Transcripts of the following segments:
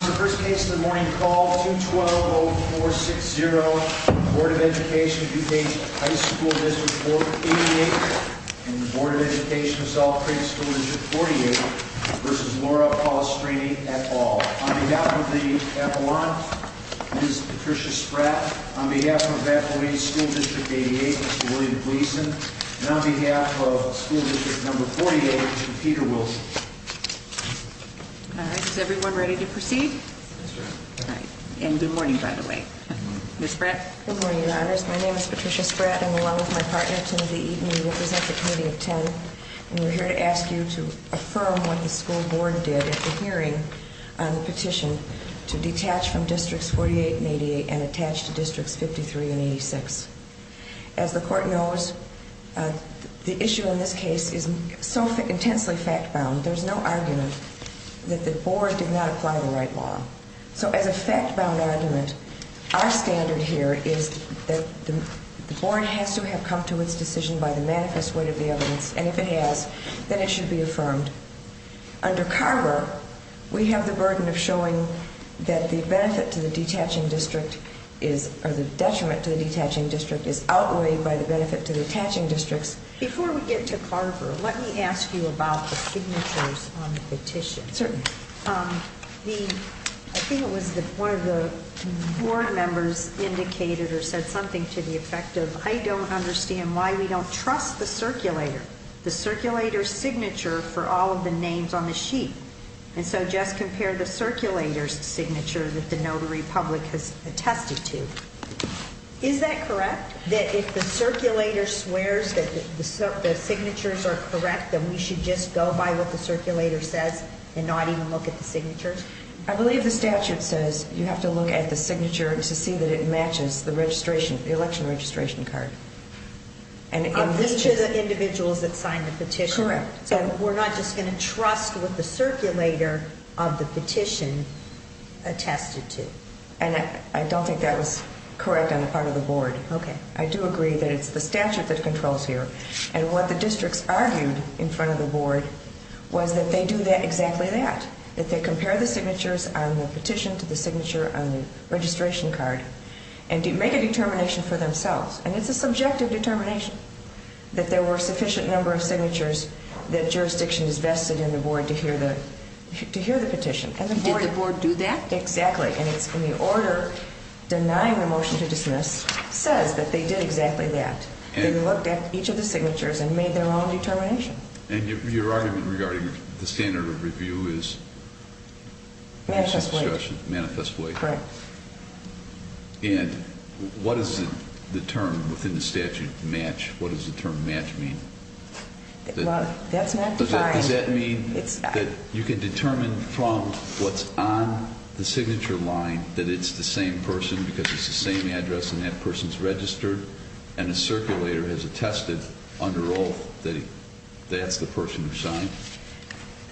This is the first case of the morning. Call 212-0460. Board of Education of DuPage High School District 488 and Board of Education of Salt Creek School District 48 v. Laura Pollastrini, et al. On behalf of the Appellant, Ms. Patricia Spratt. On behalf of Faculty of School District 88, Mr. William Gleason. And on behalf of School District number 48, Mr. Peter Wilson. All right. Is everyone ready to proceed? And good morning, by the way. Ms. Spratt. Good morning, Your Honors. My name is Patricia Spratt. I'm along with my partner, Timothy Eaton. We represent the Committee of 10. And we're here to ask you to affirm what the school board did at the hearing on the petition to detach from Districts 48 and 88 and attach to Districts 53 and 86. As the Court knows, the issue in this case is so intensely fact-bound, there's no argument that the board did not apply the right law. So as a fact-bound argument, our standard here is that the board has to have come to its decision by the manifest weight of the evidence, and if it has, then it should be affirmed. Under Carver, we have the burden of showing that the benefit to the detaching district is, or the detriment to the detaching district is outweighed by the benefit to the attaching districts. Before we get to Carver, let me ask you about the signatures on the petition. Certainly. I think it was one of the board members indicated or said something to the effect of, I don't understand why we don't trust the circulator, the circulator's signature for all of the names on the sheet. And so just compare the circulator's signature that the notary public has attested to. Is that correct, that if the circulator swears that the signatures are correct, then we should just go by what the circulator says and not even look at the signatures? I believe the statute says you have to look at the signature to see that it matches the registration, the election registration card. Of each of the individuals that signed the petition? Correct. So we're not just going to trust what the circulator of the petition attested to? And I don't think that was correct on the part of the board. Okay. I do agree that it's the statute that controls here. And what the districts argued in front of the board was that they do exactly that, that they compare the signatures on the petition to the signature on the registration card and make a determination for themselves. And it's a subjective determination that there were a sufficient number of signatures that jurisdiction is vested in the board to hear the petition. Did the board do that? Exactly. And it's in the order denying the motion to dismiss says that they did exactly that. They looked at each of the signatures and made their own determination. And your argument regarding the standard of review is? Manifest weight. Manifest weight. Correct. And what is the term within the statute, match? What does the term match mean? Well, that's not defined. Does that mean that you can determine from what's on the signature line that it's the same person because it's the same address and that person's registered? And the circulator has attested under oath that that's the person who signed?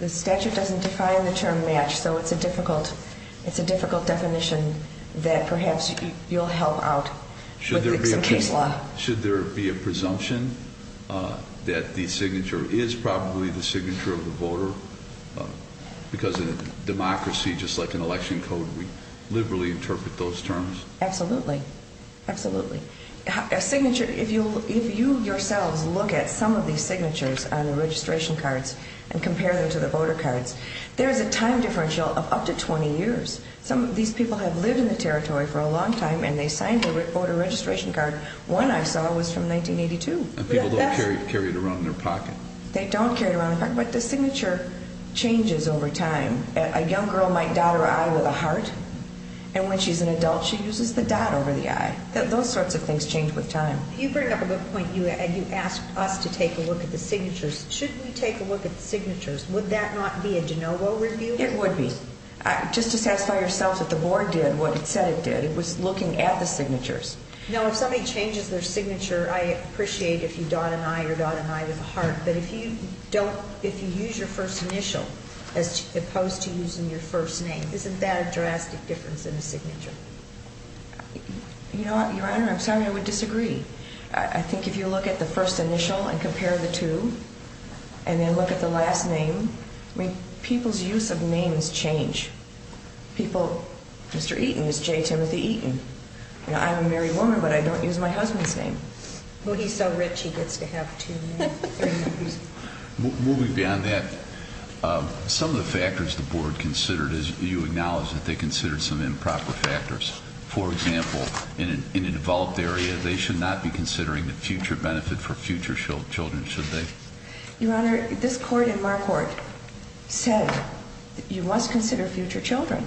The statute doesn't define the term match, so it's a difficult definition that perhaps you'll help out with the case law. Should there be a presumption that the signature is probably the signature of the voter? Because in a democracy, just like an election code, we liberally interpret those terms. Absolutely. Absolutely. A signature, if you yourselves look at some of these signatures on the registration cards and compare them to the voter cards, there is a time differential of up to 20 years. Some of these people have lived in the territory for a long time, and they signed a voter registration card. One I saw was from 1982. And people don't carry it around in their pocket. They don't carry it around in their pocket, but the signature changes over time. A young girl might dot her I with a heart, and when she's an adult, she uses the dot over the I. Those sorts of things change with time. You bring up a good point. You asked us to take a look at the signatures. Should we take a look at the signatures? Would that not be a de novo review? It would be. Just to satisfy yourselves what the board did, what it said it did, it was looking at the signatures. Now, if somebody changes their signature, I appreciate if you dot an I or dot an I with a heart, but if you use your first initial as opposed to using your first name, isn't that a drastic difference in a signature? You know what, Your Honor, I'm sorry, but I would disagree. I think if you look at the first initial and compare the two and then look at the last name, people's use of names change. Mr. Eaton is J. Timothy Eaton. I'm a married woman, but I don't use my husband's name. Well, he's so rich he gets to have two names. Moving beyond that, some of the factors the board considered, as you acknowledge, that they considered some improper factors. For example, in a developed area, they should not be considering the future benefit for future children, should they? Your Honor, this court in my court said you must consider future children.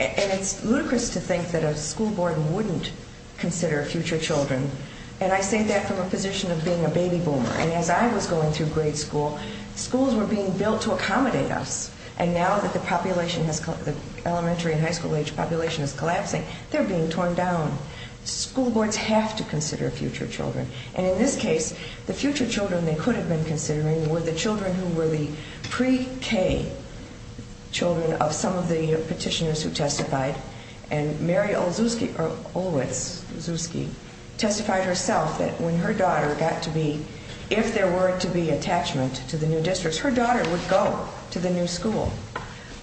And it's ludicrous to think that a school board wouldn't consider future children. And I say that from a position of being a baby boomer. And as I was going through grade school, schools were being built to accommodate us. And now that the elementary and high school age population is collapsing, they're being torn down. School boards have to consider future children. And in this case, the future children they could have been considering were the children who were the pre-K children of some of the petitioners who testified. And Mary Olitzewski testified herself that when her daughter got to be, if there were to be attachment to the new district, her daughter would go to the new school.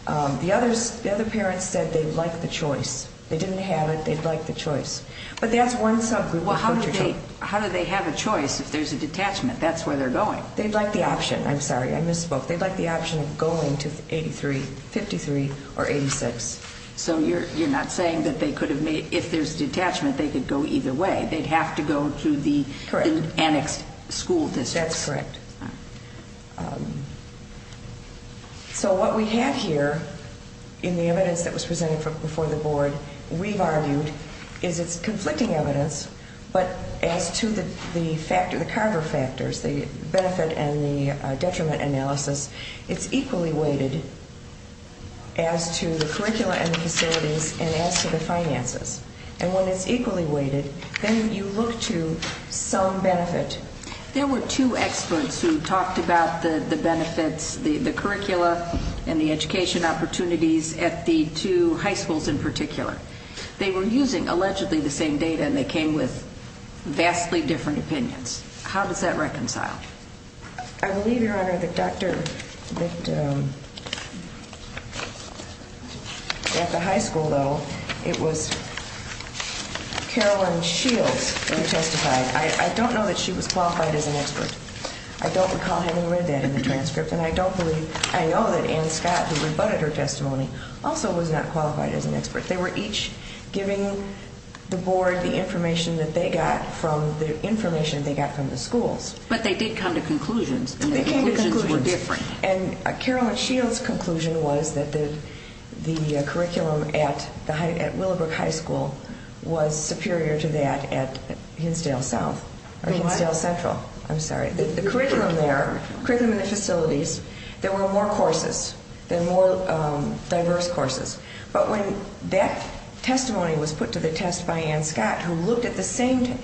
The other parents said they'd like the choice. They didn't have it. They'd like the choice. But that's one subgroup of future children. But how do they have a choice if there's a detachment? That's where they're going. They'd like the option. I'm sorry. I misspoke. They'd like the option of going to 83, 53, or 86. So you're not saying that if there's a detachment, they could go either way. They'd have to go to the annexed school district. That's correct. So what we have here in the evidence that was presented before the board, we've argued, is it's conflicting evidence, but as to the carver factors, the benefit and the detriment analysis, it's equally weighted as to the curricula and the facilities and as to the finances. And when it's equally weighted, then you look to some benefit. There were two experts who talked about the benefits, the curricula and the education opportunities at the two high schools in particular. They were using allegedly the same data, and they came with vastly different opinions. How does that reconcile? I believe, Your Honor, that Dr. at the high school, though, it was Carolyn Shields who testified. I don't know that she was qualified as an expert. I don't recall having read that in the transcript, and I know that Ann Scott, who rebutted her testimony, also was not qualified as an expert. They were each giving the board the information that they got from the information they got from the schools. But they did come to conclusions, and the conclusions were different. And Carolyn Shields' conclusion was that the curriculum at Willowbrook High School was superior to that at Hinsdale Central. The curriculum there, the curriculum and the facilities, there were more courses, there were more diverse courses. But when that testimony was put to the test by Ann Scott, who looked at the same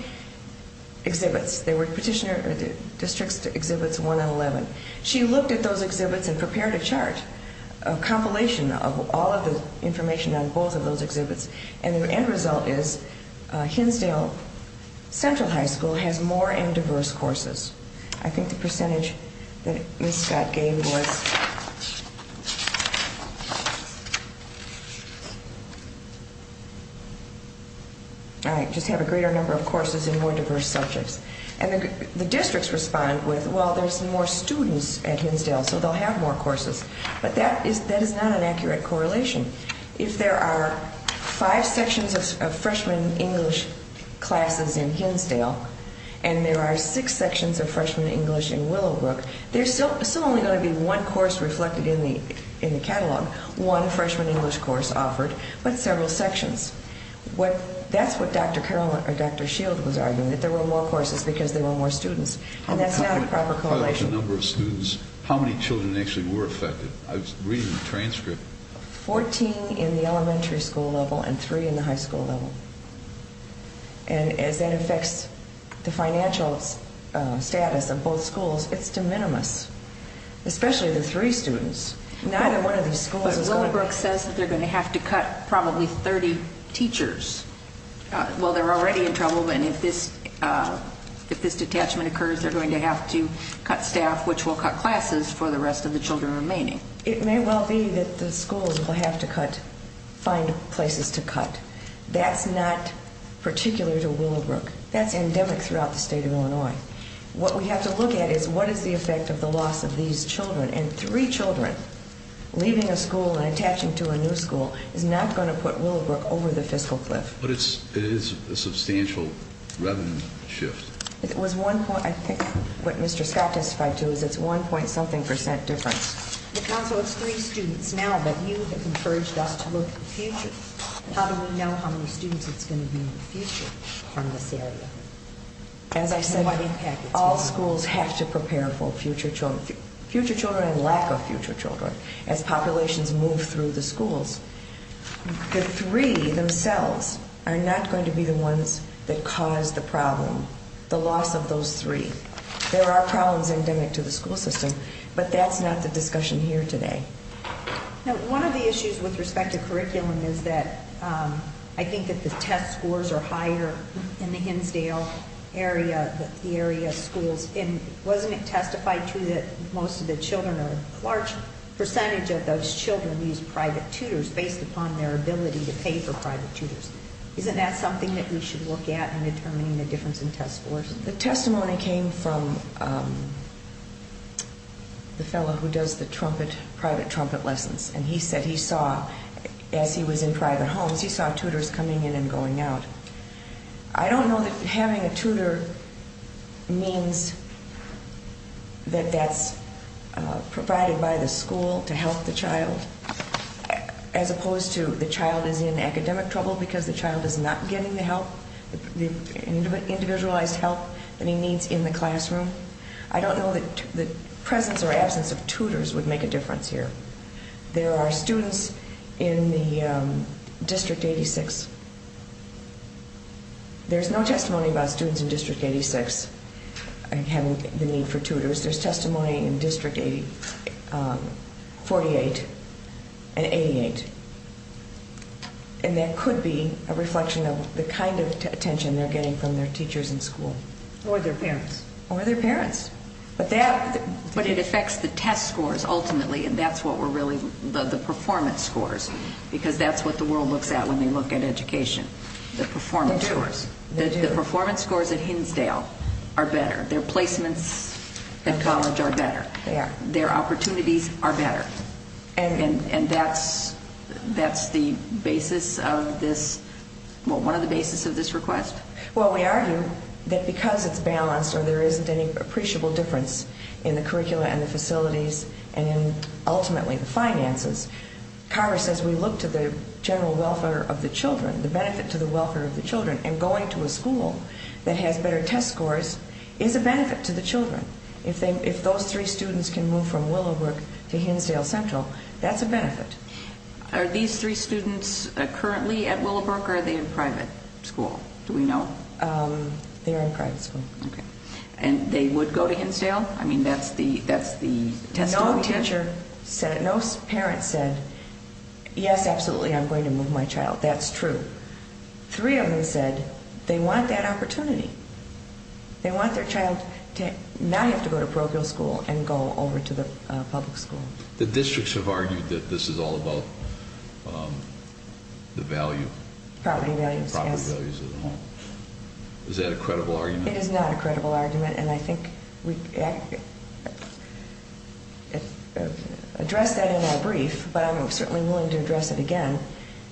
exhibits, there were district exhibits 1 and 11, she looked at those exhibits and prepared a chart, a compilation of all of the information on both of those exhibits, and the end result is Hinsdale Central High School has more and diverse courses. I think the percentage that Ms. Scott gave was... I just have a greater number of courses in more diverse subjects. And the districts respond with, well, there's more students at Hinsdale, so they'll have more courses. But that is not an accurate correlation. If there are five sections of freshman English classes in Hinsdale, and there are six sections of freshman English in Willowbrook, there's still only going to be one course reflected in the catalog, one freshman English course offered, but several sections. That's what Dr. Shield was arguing, that there were more courses because there were more students. And that's not a proper correlation. How many children actually were affected? I was reading the transcript. Fourteen in the elementary school level and three in the high school level. And as that affects the financial status of both schools, it's de minimis, especially the three students. Neither one of these schools is going to... But Willowbrook says that they're going to have to cut probably 30 teachers. Well, they're already in trouble, and if this detachment occurs, they're going to have to cut staff, which will cut classes for the rest of the children remaining. It may well be that the schools will have to cut, find places to cut. That's not particular to Willowbrook. That's endemic throughout the state of Illinois. What we have to look at is what is the effect of the loss of these children, and three children leaving a school and attaching to a new school is not going to put Willowbrook over the fiscal cliff. But it is a substantial revenue shift. It was one point, I think what Mr. Scott testified to, is it's one point something percent difference. The council has three students now, but you have encouraged us to look at the future. How do we know how many students it's going to be in the future in this area? As I said, all schools have to prepare for future children and lack of future children as populations move through the schools. The three themselves are not going to be the ones that cause the problem, the loss of those three. There are problems endemic to the school system, but that's not the discussion here today. One of the issues with respect to curriculum is that I think that the test scores are higher in the Hinsdale area, the area schools, and wasn't it testified to that most of the children or a large percentage of those children use private tutors based upon their ability to pay for private tutors? Isn't that something that we should look at in determining the difference in test scores? The testimony came from the fellow who does the private trumpet lessons, and he said he saw, as he was in private homes, he saw tutors coming in and going out. I don't know that having a tutor means that that's provided by the school to help the child, as opposed to the child is in academic trouble because the child is not getting the help, the individualized help that he needs in the classroom. I don't know that the presence or absence of tutors would make a difference here. There are students in the District 86. There's no testimony about students in District 86 having the need for tutors. There's testimony in District 48 and 88. And that could be a reflection of the kind of attention they're getting from their teachers in school. Or their parents. Or their parents. But it affects the test scores ultimately, and that's what we're really, the performance scores, because that's what the world looks at when they look at education, the performance scores. They do. The performance scores at Hinsdale are better. Their placements at college are better. Their opportunities are better. And that's the basis of this, one of the basis of this request? Well, we argue that because it's balanced or there isn't any appreciable difference in the curricula and the facilities and ultimately the finances, Congress says we look to the general welfare of the children, the benefit to the welfare of the children, and going to a school that has better test scores is a benefit to the children. If those three students can move from Willowbrook to Hinsdale Central, that's a benefit. Are these three students currently at Willowbrook or are they in private school? Do we know? They're in private school. Okay. And they would go to Hinsdale? I mean, that's the testimony. No teacher said, no parent said, yes, absolutely, I'm going to move my child. That's true. Three of them said they want that opportunity. They want their child to not have to go to parochial school and go over to the public school. The districts have argued that this is all about the value. Property values, yes. Property values. Is that a credible argument? It is not a credible argument, and I think we addressed that in our brief, but I'm certainly willing to address it again.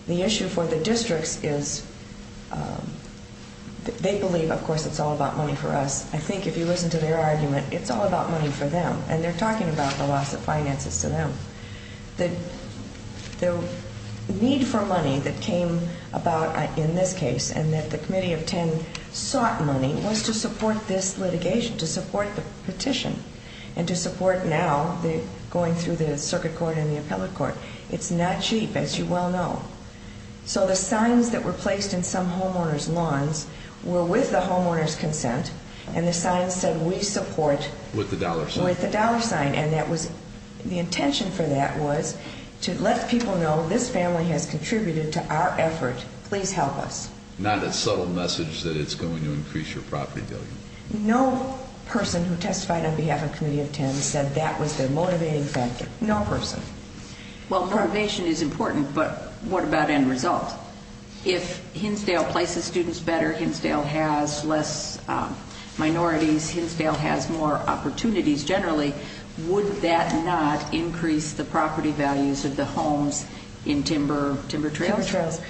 The issue for the districts is they believe, of course, it's all about money for us. I think if you listen to their argument, it's all about money for them, and they're talking about the loss of finances to them. The need for money that came about in this case and that the Committee of Ten sought money was to support this litigation, to support the petition, and to support now going through the circuit court and the appellate court. It's not cheap, as you well know. So the signs that were placed in some homeowners' lawns were with the homeowners' consent, and the signs said we support with the dollar sign, and the intention for that was to let people know this family has contributed to our effort. Please help us. Not a subtle message that it's going to increase your property value. No person who testified on behalf of Committee of Ten said that was their motivating factor. No person. Well, motivation is important, but what about end result? If Hinsdale places students better, Hinsdale has less minorities, Hinsdale has more opportunities generally, would that not increase the property values of the homes in timber trails?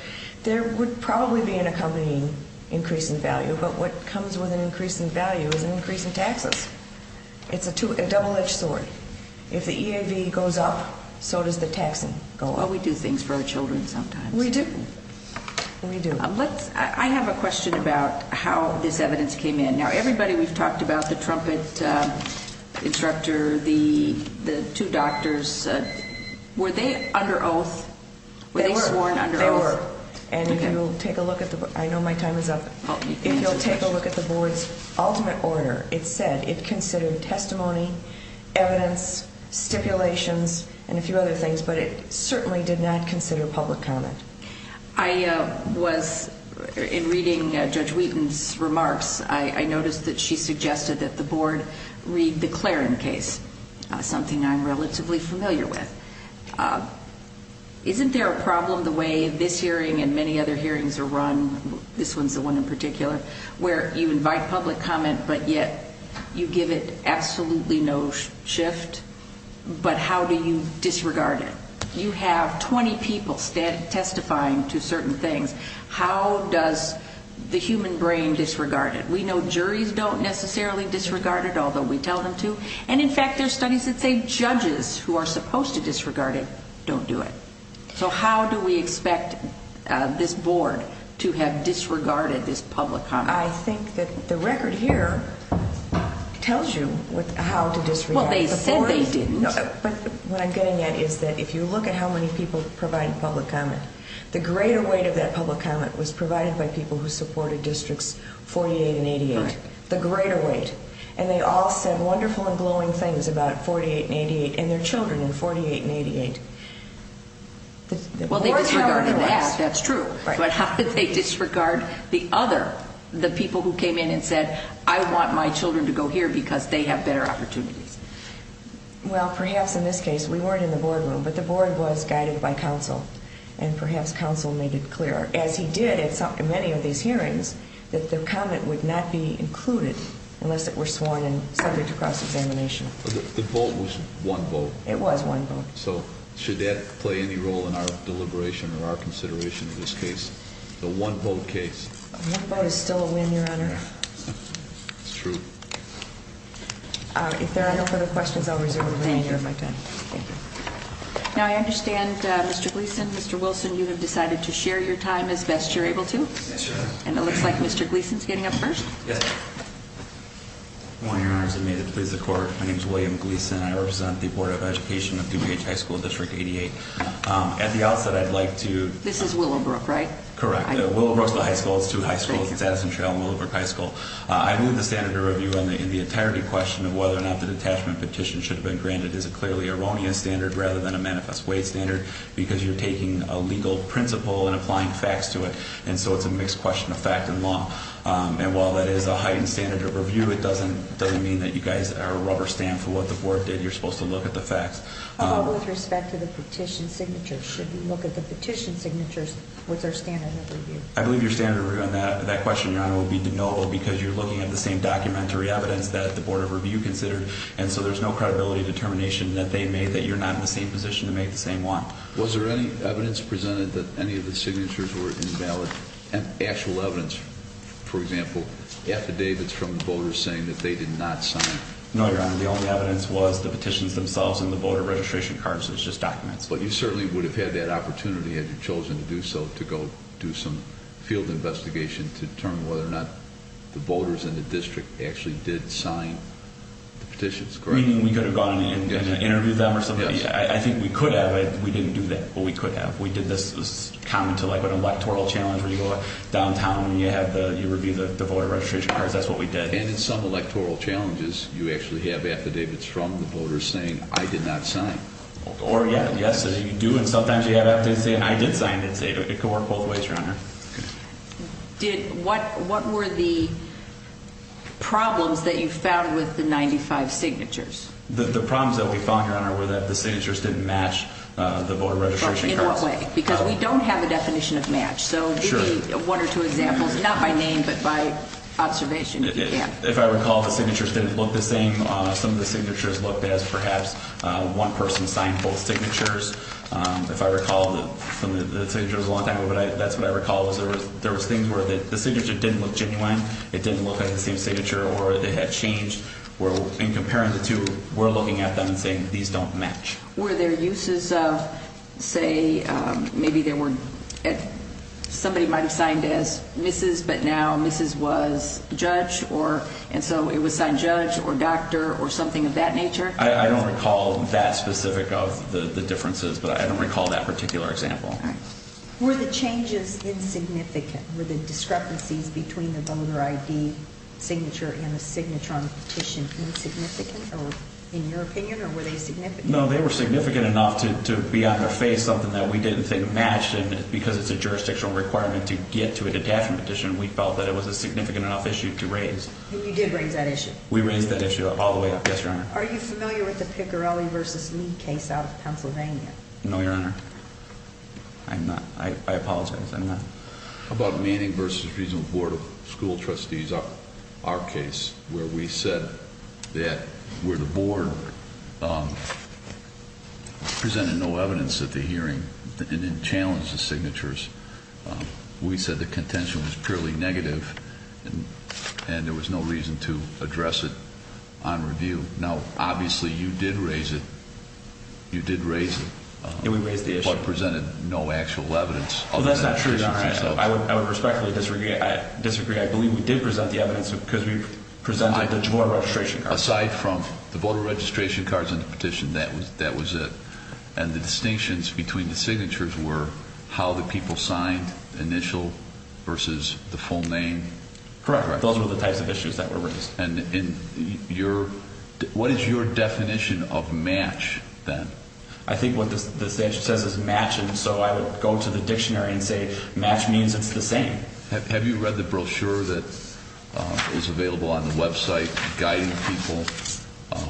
There would probably be an accompanying increase in value, but what comes with an increase in value is an increase in taxes. It's a double-edged sword. If the EAV goes up, so does the taxing go up. Well, we do things for our children sometimes. We do. We do. I have a question about how this evidence came in. Now, everybody we've talked about, the trumpet instructor, the two doctors, were they under oath? They were. Were they sworn under oath? They were. And if you'll take a look at the board's ultimate order, it said it considered testimony, evidence, stipulations, and a few other things, but it certainly did not consider public comment. I was, in reading Judge Wheaton's remarks, I noticed that she suggested that the board read the Claren case, something I'm relatively familiar with. Isn't there a problem the way this hearing and many other hearings are run, this one's the one in particular, where you invite public comment, but yet you give it absolutely no shift? But how do you disregard it? You have 20 people testifying to certain things. How does the human brain disregard it? We know juries don't necessarily disregard it, although we tell them to, and, in fact, there are studies that say judges who are supposed to disregard it don't do it. So how do we expect this board to have disregarded this public comment? I think that the record here tells you how to disregard it. Well, they said they didn't. But what I'm getting at is that if you look at how many people provided public comment, the greater weight of that public comment was provided by people who supported Districts 48 and 88, the greater weight, and they all said wonderful and glowing things about 48 and 88 and their children in 48 and 88. Well, they disregarded that. That's true. But how did they disregard the other, the people who came in and said, I want my children to go here because they have better opportunities? Well, perhaps in this case we weren't in the boardroom, but the board was guided by counsel, and perhaps counsel made it clear, as he did at many of these hearings, that the comment would not be included unless it were sworn in subject to cross-examination. The vote was one vote. It was one vote. So should that play any role in our deliberation or our consideration of this case, the one-vote case? One vote is still a win, Your Honor. That's true. If there are no further questions, I'll reserve the remainder of my time. Thank you. Thank you. Now, I understand, Mr. Gleeson, Mr. Wilson, you have decided to share your time as best you're able to. Yes, Your Honor. And it looks like Mr. Gleeson is getting up first. Yes. Good morning, Your Honors, and may it please the Court. My name is William Gleeson. I represent the Board of Education of DuPage High School, District 88. At the outset, I'd like to This is Willowbrook, right? Correct. Willowbrook is the high school. It's two high schools. It's Addison Trail and Willowbrook High School. I move the standard review in the entirety question of whether or not the detachment petition should have been granted is a clearly erroneous standard rather than a manifest way standard because you're taking a legal principle and applying facts to it, and so it's a mixed question of fact and law. And while that is a heightened standard of review, it doesn't mean that you guys are a rubber stamp for what the Board did. You're supposed to look at the facts. But with respect to the petition signatures, should we look at the petition signatures with their standard of review? I believe your standard of review on that question, Your Honor, would be no because you're looking at the same documentary evidence that the Board of Review considered, and so there's no credibility determination that they made that you're not in the same position to make the same one. Was there any evidence presented that any of the signatures were invalid? And actual evidence, for example, affidavits from voters saying that they did not sign? No, Your Honor. The only evidence was the petitions themselves and the voter registration cards. It was just documents. But you certainly would have had that opportunity had you chosen to do so to go do some field investigation to determine whether or not the voters in the district actually did sign the petitions, correct? You mean we could have gone and interviewed them or something? Yes. I think we could have. We didn't do that, but we could have. This is common to an electoral challenge where you go downtown and you review the voter registration cards. That's what we did. And in some electoral challenges, you actually have affidavits from the voters saying, I did not sign. Yes, you do, and sometimes you have affidavits saying, I did sign it. It could work both ways, Your Honor. What were the problems that you found with the 95 signatures? The problems that we found, Your Honor, were that the signatures didn't match the voter registration cards. In what way? Because we don't have a definition of match. So give me one or two examples, not by name, but by observation. If I recall, the signatures didn't look the same. Some of the signatures looked as perhaps one person signed both signatures. If I recall, the signature was a long time ago, but that's what I recall. There was things where the signature didn't look genuine, it didn't look like the same signature, or it had changed. In comparing the two, we're looking at them and saying these don't match. Were there uses of, say, maybe there were somebody might have signed as Mrs., but now Mrs. was Judge, and so it was signed Judge or Doctor or something of that nature? I don't recall that specific of the differences, but I don't recall that particular example. All right. Were the changes insignificant? Were the discrepancies between the voter ID signature and the signature on the petition insignificant, in your opinion, or were they significant? No, they were significant enough to be on their face, something that we didn't think matched, and because it's a jurisdictional requirement to get to a definition, we felt that it was a significant enough issue to raise. And you did raise that issue? We raised that issue all the way up, yes, Your Honor. Are you familiar with the Piccarelli v. Lee case out of Pennsylvania? No, Your Honor. I'm not. I apologize. I'm not. How about Manning v. Regional Board of School Trustees, our case, where we said that where the board presented no evidence at the hearing and didn't challenge the signatures, we said the contention was purely negative and there was no reason to address it on review. Now, obviously, you did raise it. You did raise it. And we raised the issue. But presented no actual evidence. Well, that's not true, Your Honor. I would respectfully disagree. I believe we did present the evidence because we presented the voter registration cards. Aside from the voter registration cards and the petition, that was it. And the distinctions between the signatures were how the people signed, initial versus the full name. Correct. Those were the types of issues that were raised. And what is your definition of match, then? I think what the statute says is match. And so I would go to the dictionary and say match means it's the same. Have you read the brochure that is available on the website guiding people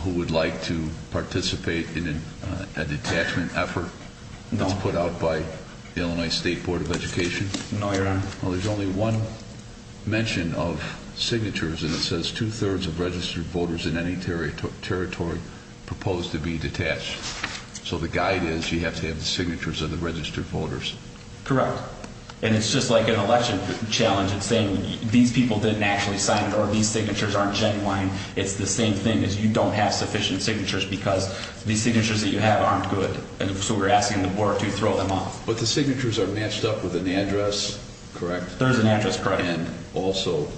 who would like to participate in a detachment effort? No. That's put out by the Illinois State Board of Education? No, Your Honor. Well, there's only one mention of signatures, and it says two-thirds of registered voters in any territory propose to be detached. So the guide is you have to have the signatures of the registered voters. Correct. And it's just like an election challenge. It's saying these people didn't actually sign or these signatures aren't genuine. It's the same thing as you don't have sufficient signatures because these signatures that you have aren't good. And so we're asking the board to throw them off. But the signatures are matched up with an address, correct? There's an address, correct. And also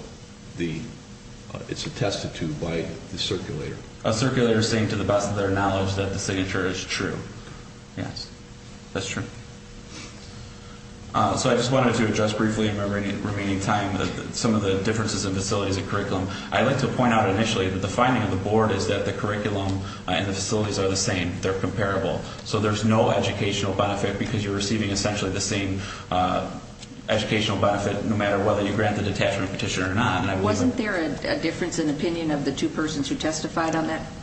it's attested to by the circulator. A circulator saying to the best of their knowledge that the signature is true. Yes, that's true. So I just wanted to address briefly in my remaining time some of the differences in facilities and curriculum. I'd like to point out initially that the finding of the board is that the curriculum and the facilities are the same. They're comparable. So there's no educational benefit because you're receiving essentially the same educational benefit no matter whether you grant the detachment petition or not. Wasn't there a difference in opinion of the two persons who testified on that issue?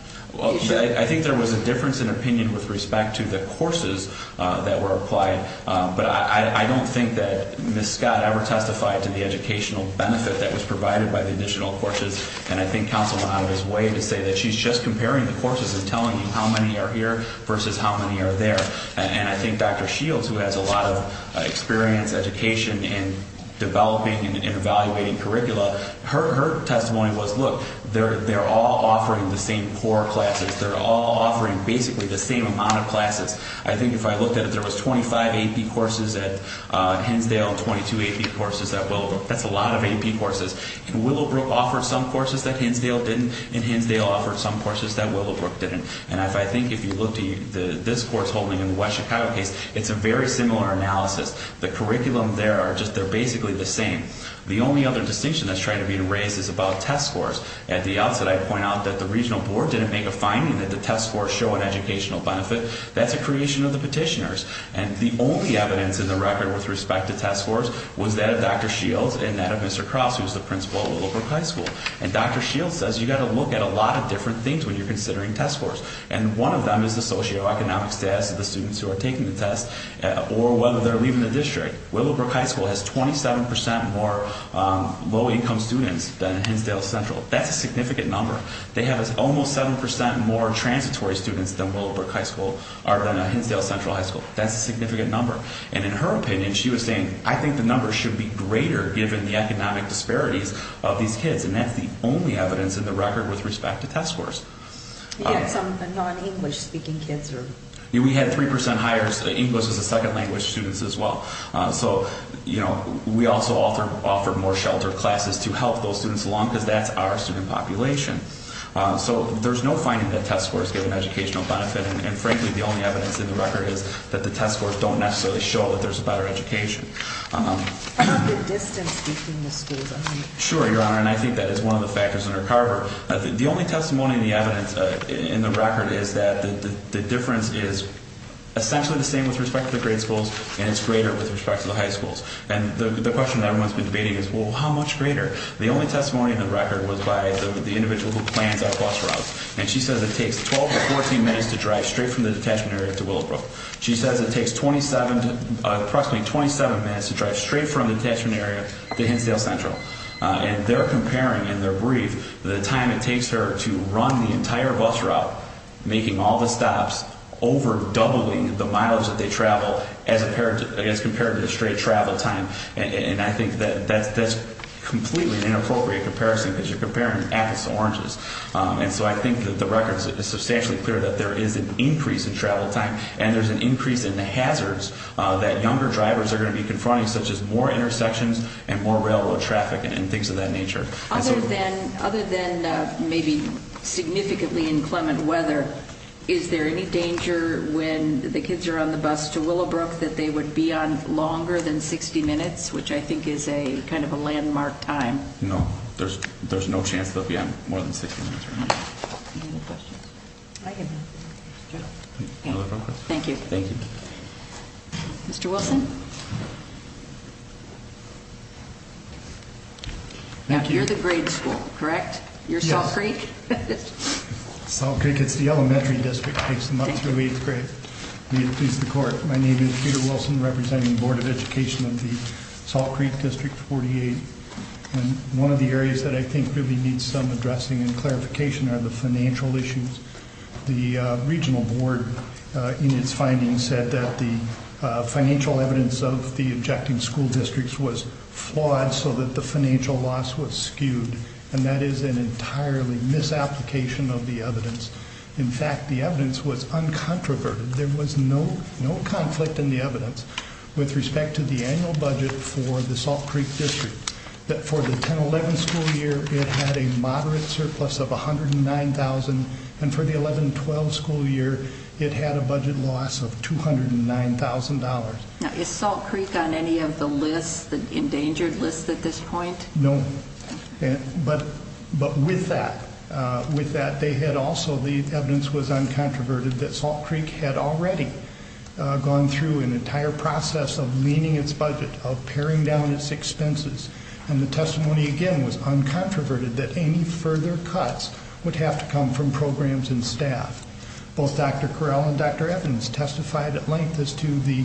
I think there was a difference in opinion with respect to the courses that were applied. But I don't think that Ms. Scott ever testified to the educational benefit that was provided by the additional courses. And I think counsel went out of his way to say that she's just comparing the courses and telling you how many are here versus how many are there. And I think Dr. Shields, who has a lot of experience, education in developing and evaluating curricula, her testimony was, look, they're all offering the same core classes. They're all offering basically the same amount of classes. I think if I looked at it, there was 25 AP courses at Hensdale and 22 AP courses at Willowbrook. That's a lot of AP courses. And Willowbrook offered some courses that Hensdale didn't. And Hensdale offered some courses that Willowbrook didn't. And I think if you look at this course holding in the West Chicago case, it's a very similar analysis. The curriculum there, they're basically the same. The only other distinction that's trying to be raised is about test scores. At the outset, I'd point out that the regional board didn't make a finding that the test scores show an educational benefit. That's a creation of the petitioners. And the only evidence in the record with respect to test scores was that of Dr. Shields and that of Mr. Cross, who's the principal at Willowbrook High School. And Dr. Shields says you've got to look at a lot of different things when you're considering test scores. And one of them is the socioeconomic status of the students who are taking the test or whether they're leaving the district. Willowbrook High School has 27% more low-income students than Hensdale Central. That's a significant number. They have almost 7% more transitory students than Willowbrook High School or than Hensdale Central High School. That's a significant number. And in her opinion, she was saying, I think the numbers should be greater given the economic disparities of these kids. And that's the only evidence in the record with respect to test scores. We had some non-English-speaking kids. We had 3% higher English as a second language students as well. So, you know, we also offer more sheltered classes to help those students along because that's our student population. So there's no finding that test scores give an educational benefit. And frankly, the only evidence in the record is that the test scores don't necessarily show that there's a better education. How about the distance between the schools? Sure, Your Honor. And I think that is one of the factors under Carver. The only testimony in the evidence in the record is that the difference is essentially the same with respect to the grade schools, and it's greater with respect to the high schools. And the question that everyone's been debating is, well, how much greater? The only testimony in the record was by the individual who plans our bus routes. And she says it takes 12 to 14 minutes to drive straight from the detachment area to Willowbrook. She says it takes 27, approximately 27 minutes to drive straight from the detachment area to Hensdale Central. And they're comparing in their brief the time it takes her to run the entire bus route, making all the stops, over-doubling the miles that they travel as compared to the straight travel time. And I think that that's completely an inappropriate comparison because you're comparing apples to oranges. And so I think that the record is substantially clear that there is an increase in travel time and there's an increase in the hazards that younger drivers are going to be confronting, such as more intersections and more railroad traffic and things of that nature. Other than maybe significantly inclement weather, is there any danger when the kids are on the bus to Willowbrook that they would be on longer than 60 minutes, which I think is kind of a landmark time? No, there's no chance they'll be on more than 60 minutes. Any other questions? Thank you. Mr. Wilson? You're the grade school, correct? You're Salt Creek? Salt Creek. It's the elementary district. It takes them up through eighth grade. My name is Peter Wilson, representing the Board of Education of the Salt Creek District 48. And one of the areas that I think really needs some addressing and clarification are the financial issues. The regional board, in its findings, said that the financial evidence of the objecting school districts was flawed so that the financial loss was skewed, and that is an entirely misapplication of the evidence. In fact, the evidence was uncontroverted. There was no conflict in the evidence with respect to the annual budget for the Salt Creek District, that for the 10-11 school year, it had a moderate surplus of $109,000, and for the 11-12 school year, it had a budget loss of $209,000. Now, is Salt Creek on any of the lists, the endangered lists at this point? No. But with that, they had also, the evidence was uncontroverted, that Salt Creek had already gone through an entire process of leaning its budget, of paring down its expenses, and the testimony, again, was uncontroverted that any further cuts would have to come from programs and staff. Both Dr. Correll and Dr. Evans testified at length as to the,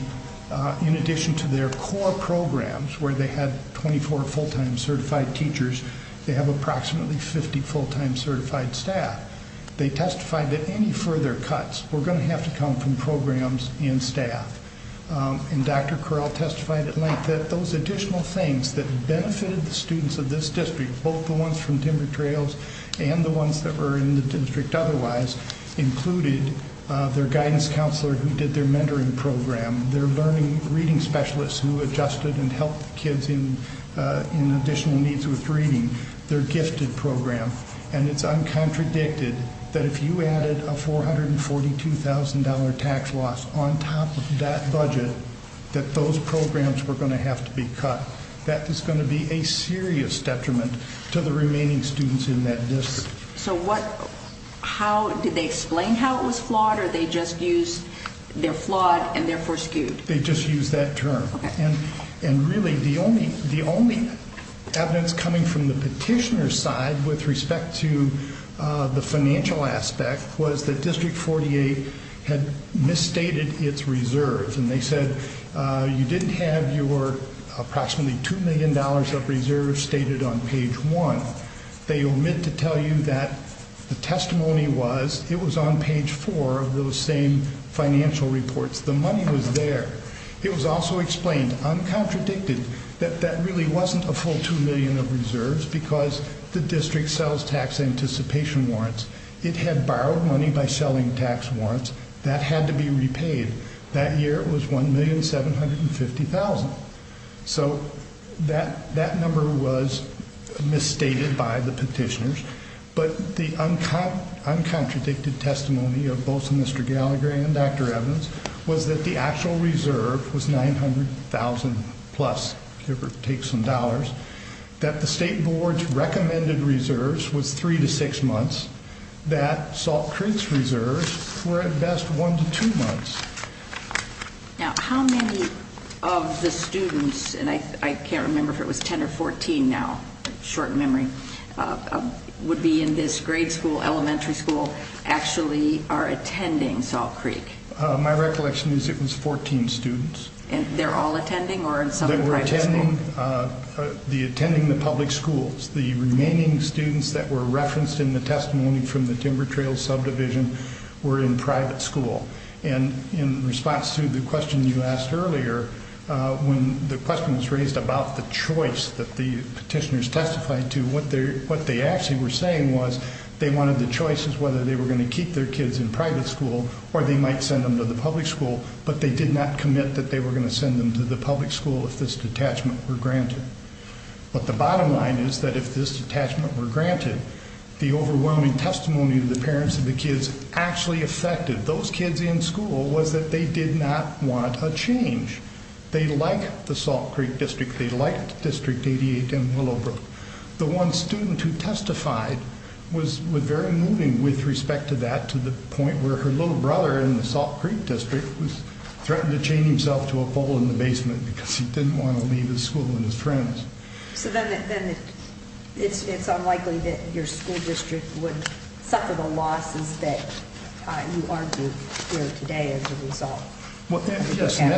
in addition to their core programs, where they had 24 full-time certified teachers, they have approximately 50 full-time certified staff. They testified that any further cuts were going to have to come from programs and staff. And Dr. Correll testified at length that those additional things that benefited the students of this district, both the ones from Timber Trails and the ones that were in the district otherwise, included their guidance counselor who did their mentoring program, their learning reading specialist who adjusted and helped kids in additional needs with reading, their gifted program. And it's uncontradicted that if you added a $442,000 tax loss on top of that budget, that those programs were going to have to be cut. That is going to be a serious detriment to the remaining students in that district. So what, how, did they explain how it was flawed or they just used they're flawed and they're forskewed? They just used that term. Okay. And really the only evidence coming from the petitioner's side with respect to the financial aspect was that District 48 had misstated its reserves. And they said you didn't have your approximately $2 million of reserves stated on page 1. They omit to tell you that the testimony was it was on page 4 of those same financial reports. The money was there. It was also explained, uncontradicted, that that really wasn't a full $2 million of reserves because the district sells tax anticipation warrants. It had borrowed money by selling tax warrants. That had to be repaid. That year it was $1,750,000. So that number was misstated by the petitioners. But the uncontradicted testimony of both Mr. Gallagher and Dr. Evans was that the actual reserve was $900,000 plus, give or take some dollars, that the state board's recommended reserves was 3 to 6 months, that Salt Creek's reserves were at best 1 to 2 months. Now, how many of the students, and I can't remember if it was 10 or 14 now, short memory, would be in this grade school, elementary school, actually are attending Salt Creek? My recollection is it was 14 students. They're all attending or in some private school? They were attending the public schools. The remaining students that were referenced in the testimony from the Timber Trail subdivision were in private school. And in response to the question you asked earlier, when the question was raised about the choice that the petitioners testified to, what they actually were saying was they wanted the choices whether they were going to keep their kids in private school or they might send them to the public school, but they did not commit that they were going to send them to the public school if this detachment were granted. But the bottom line is that if this detachment were granted, the overwhelming testimony of the parents of the kids actually affected those kids in school was that they did not want a change. They liked the Salt Creek District. They liked District 88 in Willowbrook. The one student who testified was very moving with respect to that to the point where her little brother in the Salt Creek District threatened to chain himself to a pole in the basement because he didn't want to leave his school and his friends. So then it's unlikely that your school district would suffer the losses that you argue here today as a result. Yes, and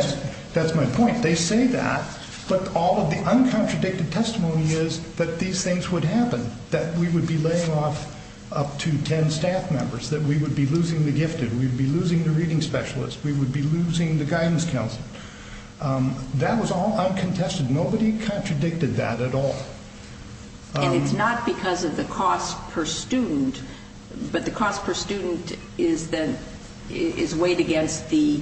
that's my point. They say that, but all of the uncontradicted testimony is that these things would happen, that we would be laying off up to 10 staff members, that we would be losing the gifted, we would be losing the reading specialist, we would be losing the guidance counselor. That was all uncontested. Nobody contradicted that at all. And it's not because of the cost per student, but the cost per student is weighed against the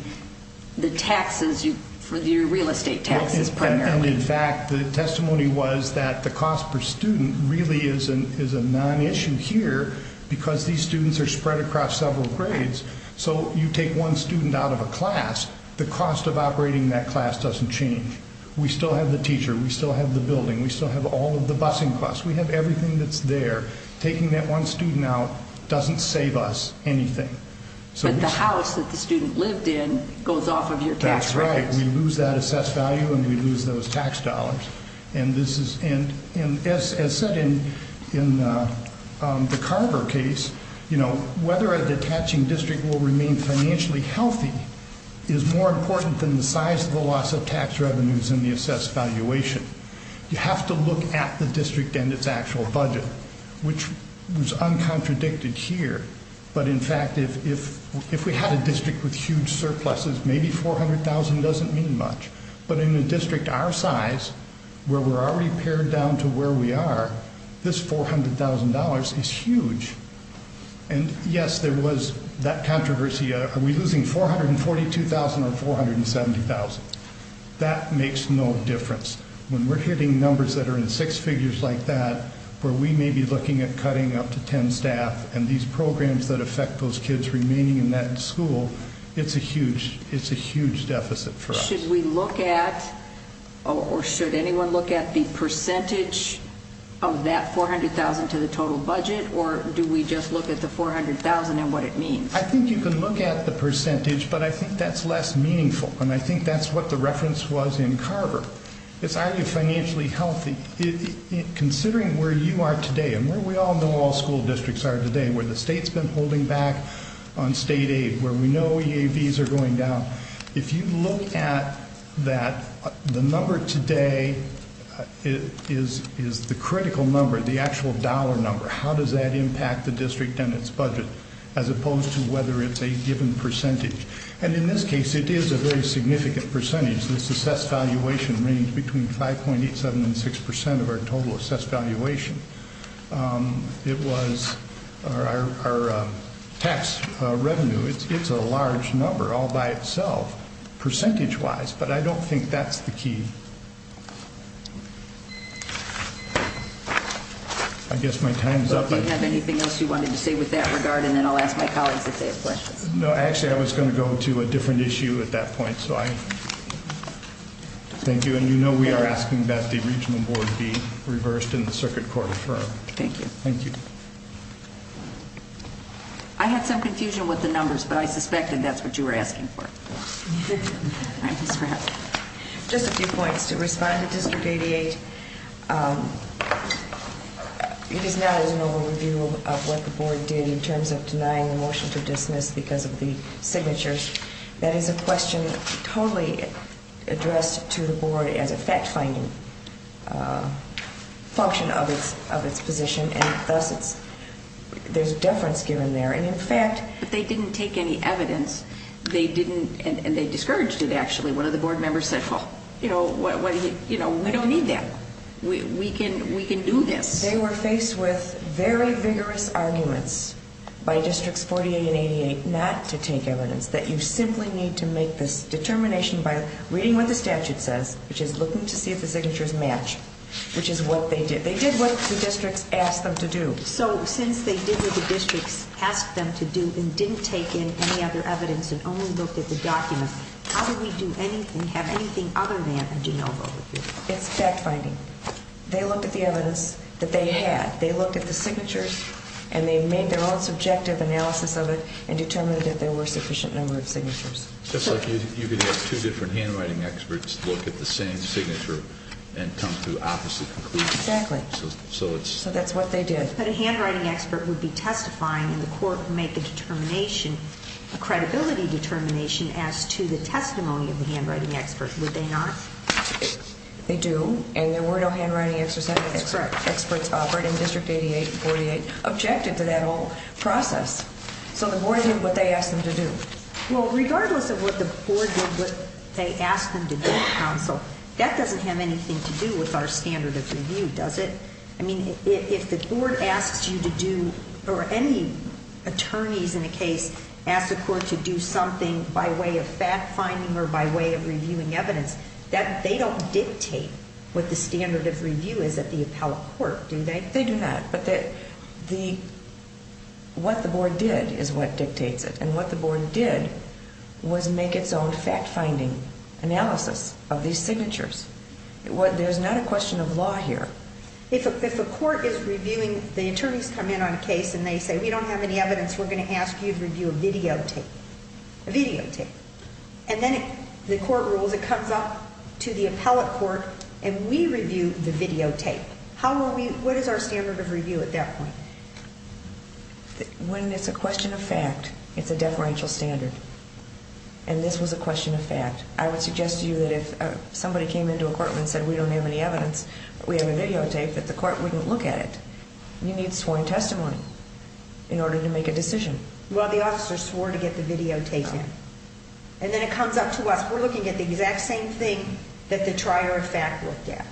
taxes, your real estate taxes primarily. In fact, the testimony was that the cost per student really is a nonissue here because these students are spread across several grades. So you take one student out of a class, the cost of operating that class doesn't change. We still have the teacher, we still have the building, we still have all of the busing costs. We have everything that's there. Taking that one student out doesn't save us anything. But the house that the student lived in goes off of your tax rates. That's right. We lose that assessed value and we lose those tax dollars. And as said in the Carver case, whether a detaching district will remain financially healthy is more important than the size of the loss of tax revenues and the assessed valuation. You have to look at the district and its actual budget, which was uncontradicted here. But, in fact, if we had a district with huge surpluses, maybe $400,000 doesn't mean much. But in a district our size, where we're already pared down to where we are, this $400,000 is huge. And, yes, there was that controversy. Are we losing $442,000 or $470,000? That makes no difference. When we're hitting numbers that are in six figures like that, where we may be looking at cutting up to 10 staff and these programs that affect those kids remaining in that school, it's a huge deficit for us. Should we look at, or should anyone look at, the percentage of that $400,000 to the total budget, or do we just look at the $400,000 and what it means? I think you can look at the percentage, but I think that's less meaningful. And I think that's what the reference was in Carver. It's, are you financially healthy? Considering where you are today and where we all know all school districts are today, where the state's been holding back on state aid, where we know EAVs are going down, if you look at that, the number today is the critical number, the actual dollar number. How does that impact the district and its budget, as opposed to whether it's a given percentage? And in this case, it is a very significant percentage. This assessed valuation ranged between 5.87% and 6% of our total assessed valuation. It was our tax revenue. It's a large number all by itself, percentage-wise. But I don't think that's the key. I guess my time is up. Do you have anything else you wanted to say with that regard? And then I'll ask my colleagues if they have questions. No, actually, I was going to go to a different issue at that point. Thank you. And you know we are asking that the regional board be reversed and the circuit court affirmed. Thank you. Thank you. I had some confusion with the numbers, but I suspected that's what you were asking for. Just a few points. To respond to District 88, it is not an overview of what the board did in terms of denying the motion to dismiss because of the signatures. That is a question totally addressed to the board as a fact-finding function of its position, and thus there's deference given there. But they didn't take any evidence, and they discouraged it, actually. One of the board members said, you know, we don't need that. We can do this. They were faced with very vigorous arguments by Districts 48 and 88 not to take evidence, that you simply need to make this determination by reading what the statute says, which is look to see if the signatures match, which is what they did. They did what the districts asked them to do. So since they did what the districts asked them to do and didn't take in any other evidence and only looked at the documents, how did we do anything, have anything other than a de novo review? It's fact-finding. They looked at the evidence that they had. They looked at the signatures, and they made their own subjective analysis of it and determined that there were a sufficient number of signatures. Just like you could have two different handwriting experts look at the same signature and come to opposite conclusions. Exactly. So that's what they did. But a handwriting expert would be testifying, and the court would make a determination, a credibility determination, as to the testimony of the handwriting expert, would they not? They do, and there were no handwriting experts operating. District 88 and 48 objected to that whole process. So the board did what they asked them to do. Well, regardless of what the board did, what they asked them to do, Counsel, that doesn't have anything to do with our standard of review, does it? I mean, if the board asks you to do, or any attorneys in a case ask the court to do something by way of fact-finding or by way of reviewing evidence, they don't dictate what the standard of review is at the appellate court, do they? They do not. But what the board did is what dictates it, and what the board did was make its own fact-finding analysis of these signatures. There's not a question of law here. If a court is reviewing, the attorneys come in on a case and they say, we don't have any evidence, we're going to ask you to review a videotape. A videotape. And then the court rules, it comes up to the appellate court, and we review the videotape. What is our standard of review at that point? When it's a question of fact, it's a deferential standard. And this was a question of fact. I would suggest to you that if somebody came into a court and said, we don't have any evidence, we have a videotape, that the court wouldn't look at it. You need sworn testimony in order to make a decision. Well, the officer swore to get the videotape in. And then it comes up to us, we're looking at the exact same thing that the trier of fact looked at.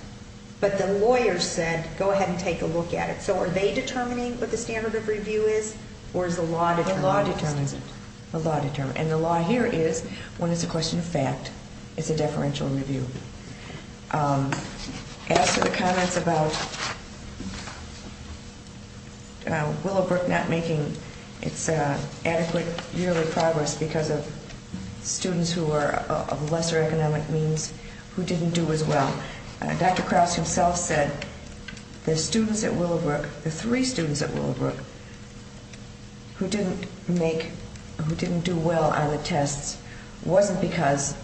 But the lawyer said, go ahead and take a look at it. So are they determining what the standard of review is, or is the law determining it? The law determines it. The law determines it. And the law here is, when it's a question of fact, it's a deferential review. As for the comments about Willowbrook not making its adequate yearly progress because of students who are of lesser economic means who didn't do as well, Dr. Krause himself said the students at Willowbrook, the three students at Willowbrook, who didn't make, who didn't do well on the tests, wasn't because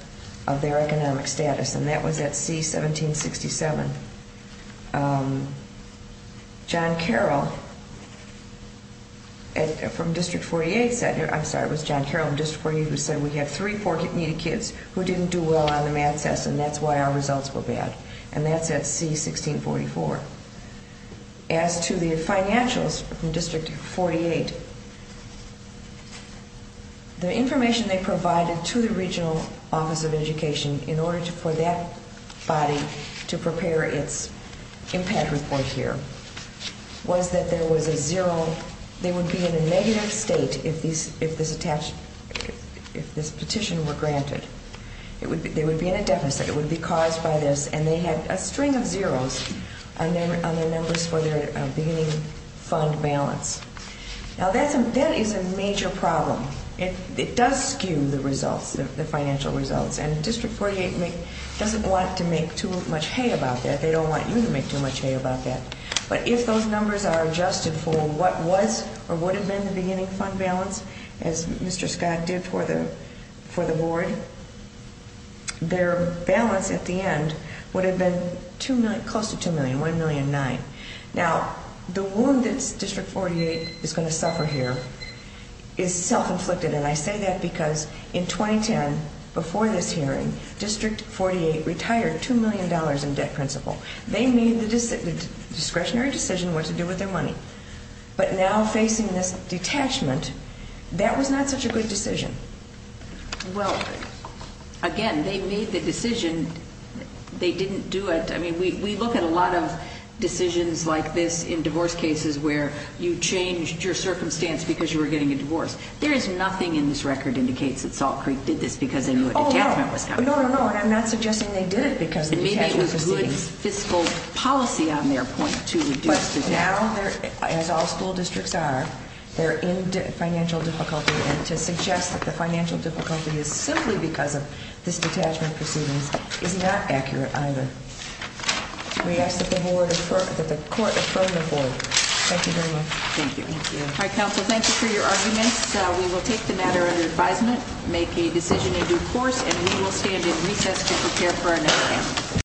of their economic status. And that was at C-1767. John Carroll from District 48 said, I'm sorry, it was John Carroll in District 48 who said, we have three poor, needy kids who didn't do well on the math tests, and that's why our results were bad. And that's at C-1644. As to the financials from District 48, the information they provided to the Regional Office of Education in order for that body to prepare its impact report here was that there was a zero, so they would be in a negative state if this petition were granted. They would be in a deficit. It would be caused by this. And they had a string of zeros on their numbers for their beginning fund balance. Now, that is a major problem. It does skew the results, the financial results. And District 48 doesn't want to make too much hay about that. They don't want you to make too much hay about that. But if those numbers are adjusted for what was or would have been the beginning fund balance, as Mr. Scott did for the board, their balance at the end would have been close to $2 million, $1.9 million. Now, the wound that District 48 is going to suffer here is self-inflicted. And I say that because in 2010, before this hearing, District 48 retired $2 million in debt principal. They made the discretionary decision what to do with their money. But now facing this detachment, that was not such a good decision. Well, again, they made the decision. They didn't do it. I mean, we look at a lot of decisions like this in divorce cases where you changed your circumstance because you were getting a divorce. There is nothing in this record that indicates that Salt Creek did this because they knew a detachment was coming. No, no, no, and I'm not suggesting they did it because of the detachment proceedings. Maybe it was good fiscal policy on their point to reduce the debt. But now, as all school districts are, they're in financial difficulty. And to suggest that the financial difficulty is simply because of this detachment proceedings is not accurate either. We ask that the court affirm the board. Thank you very much. Thank you. All right, counsel, thank you for your arguments. We will take the matter under advisement, make a decision in due course, and we will stand in recess to prepare for another hearing.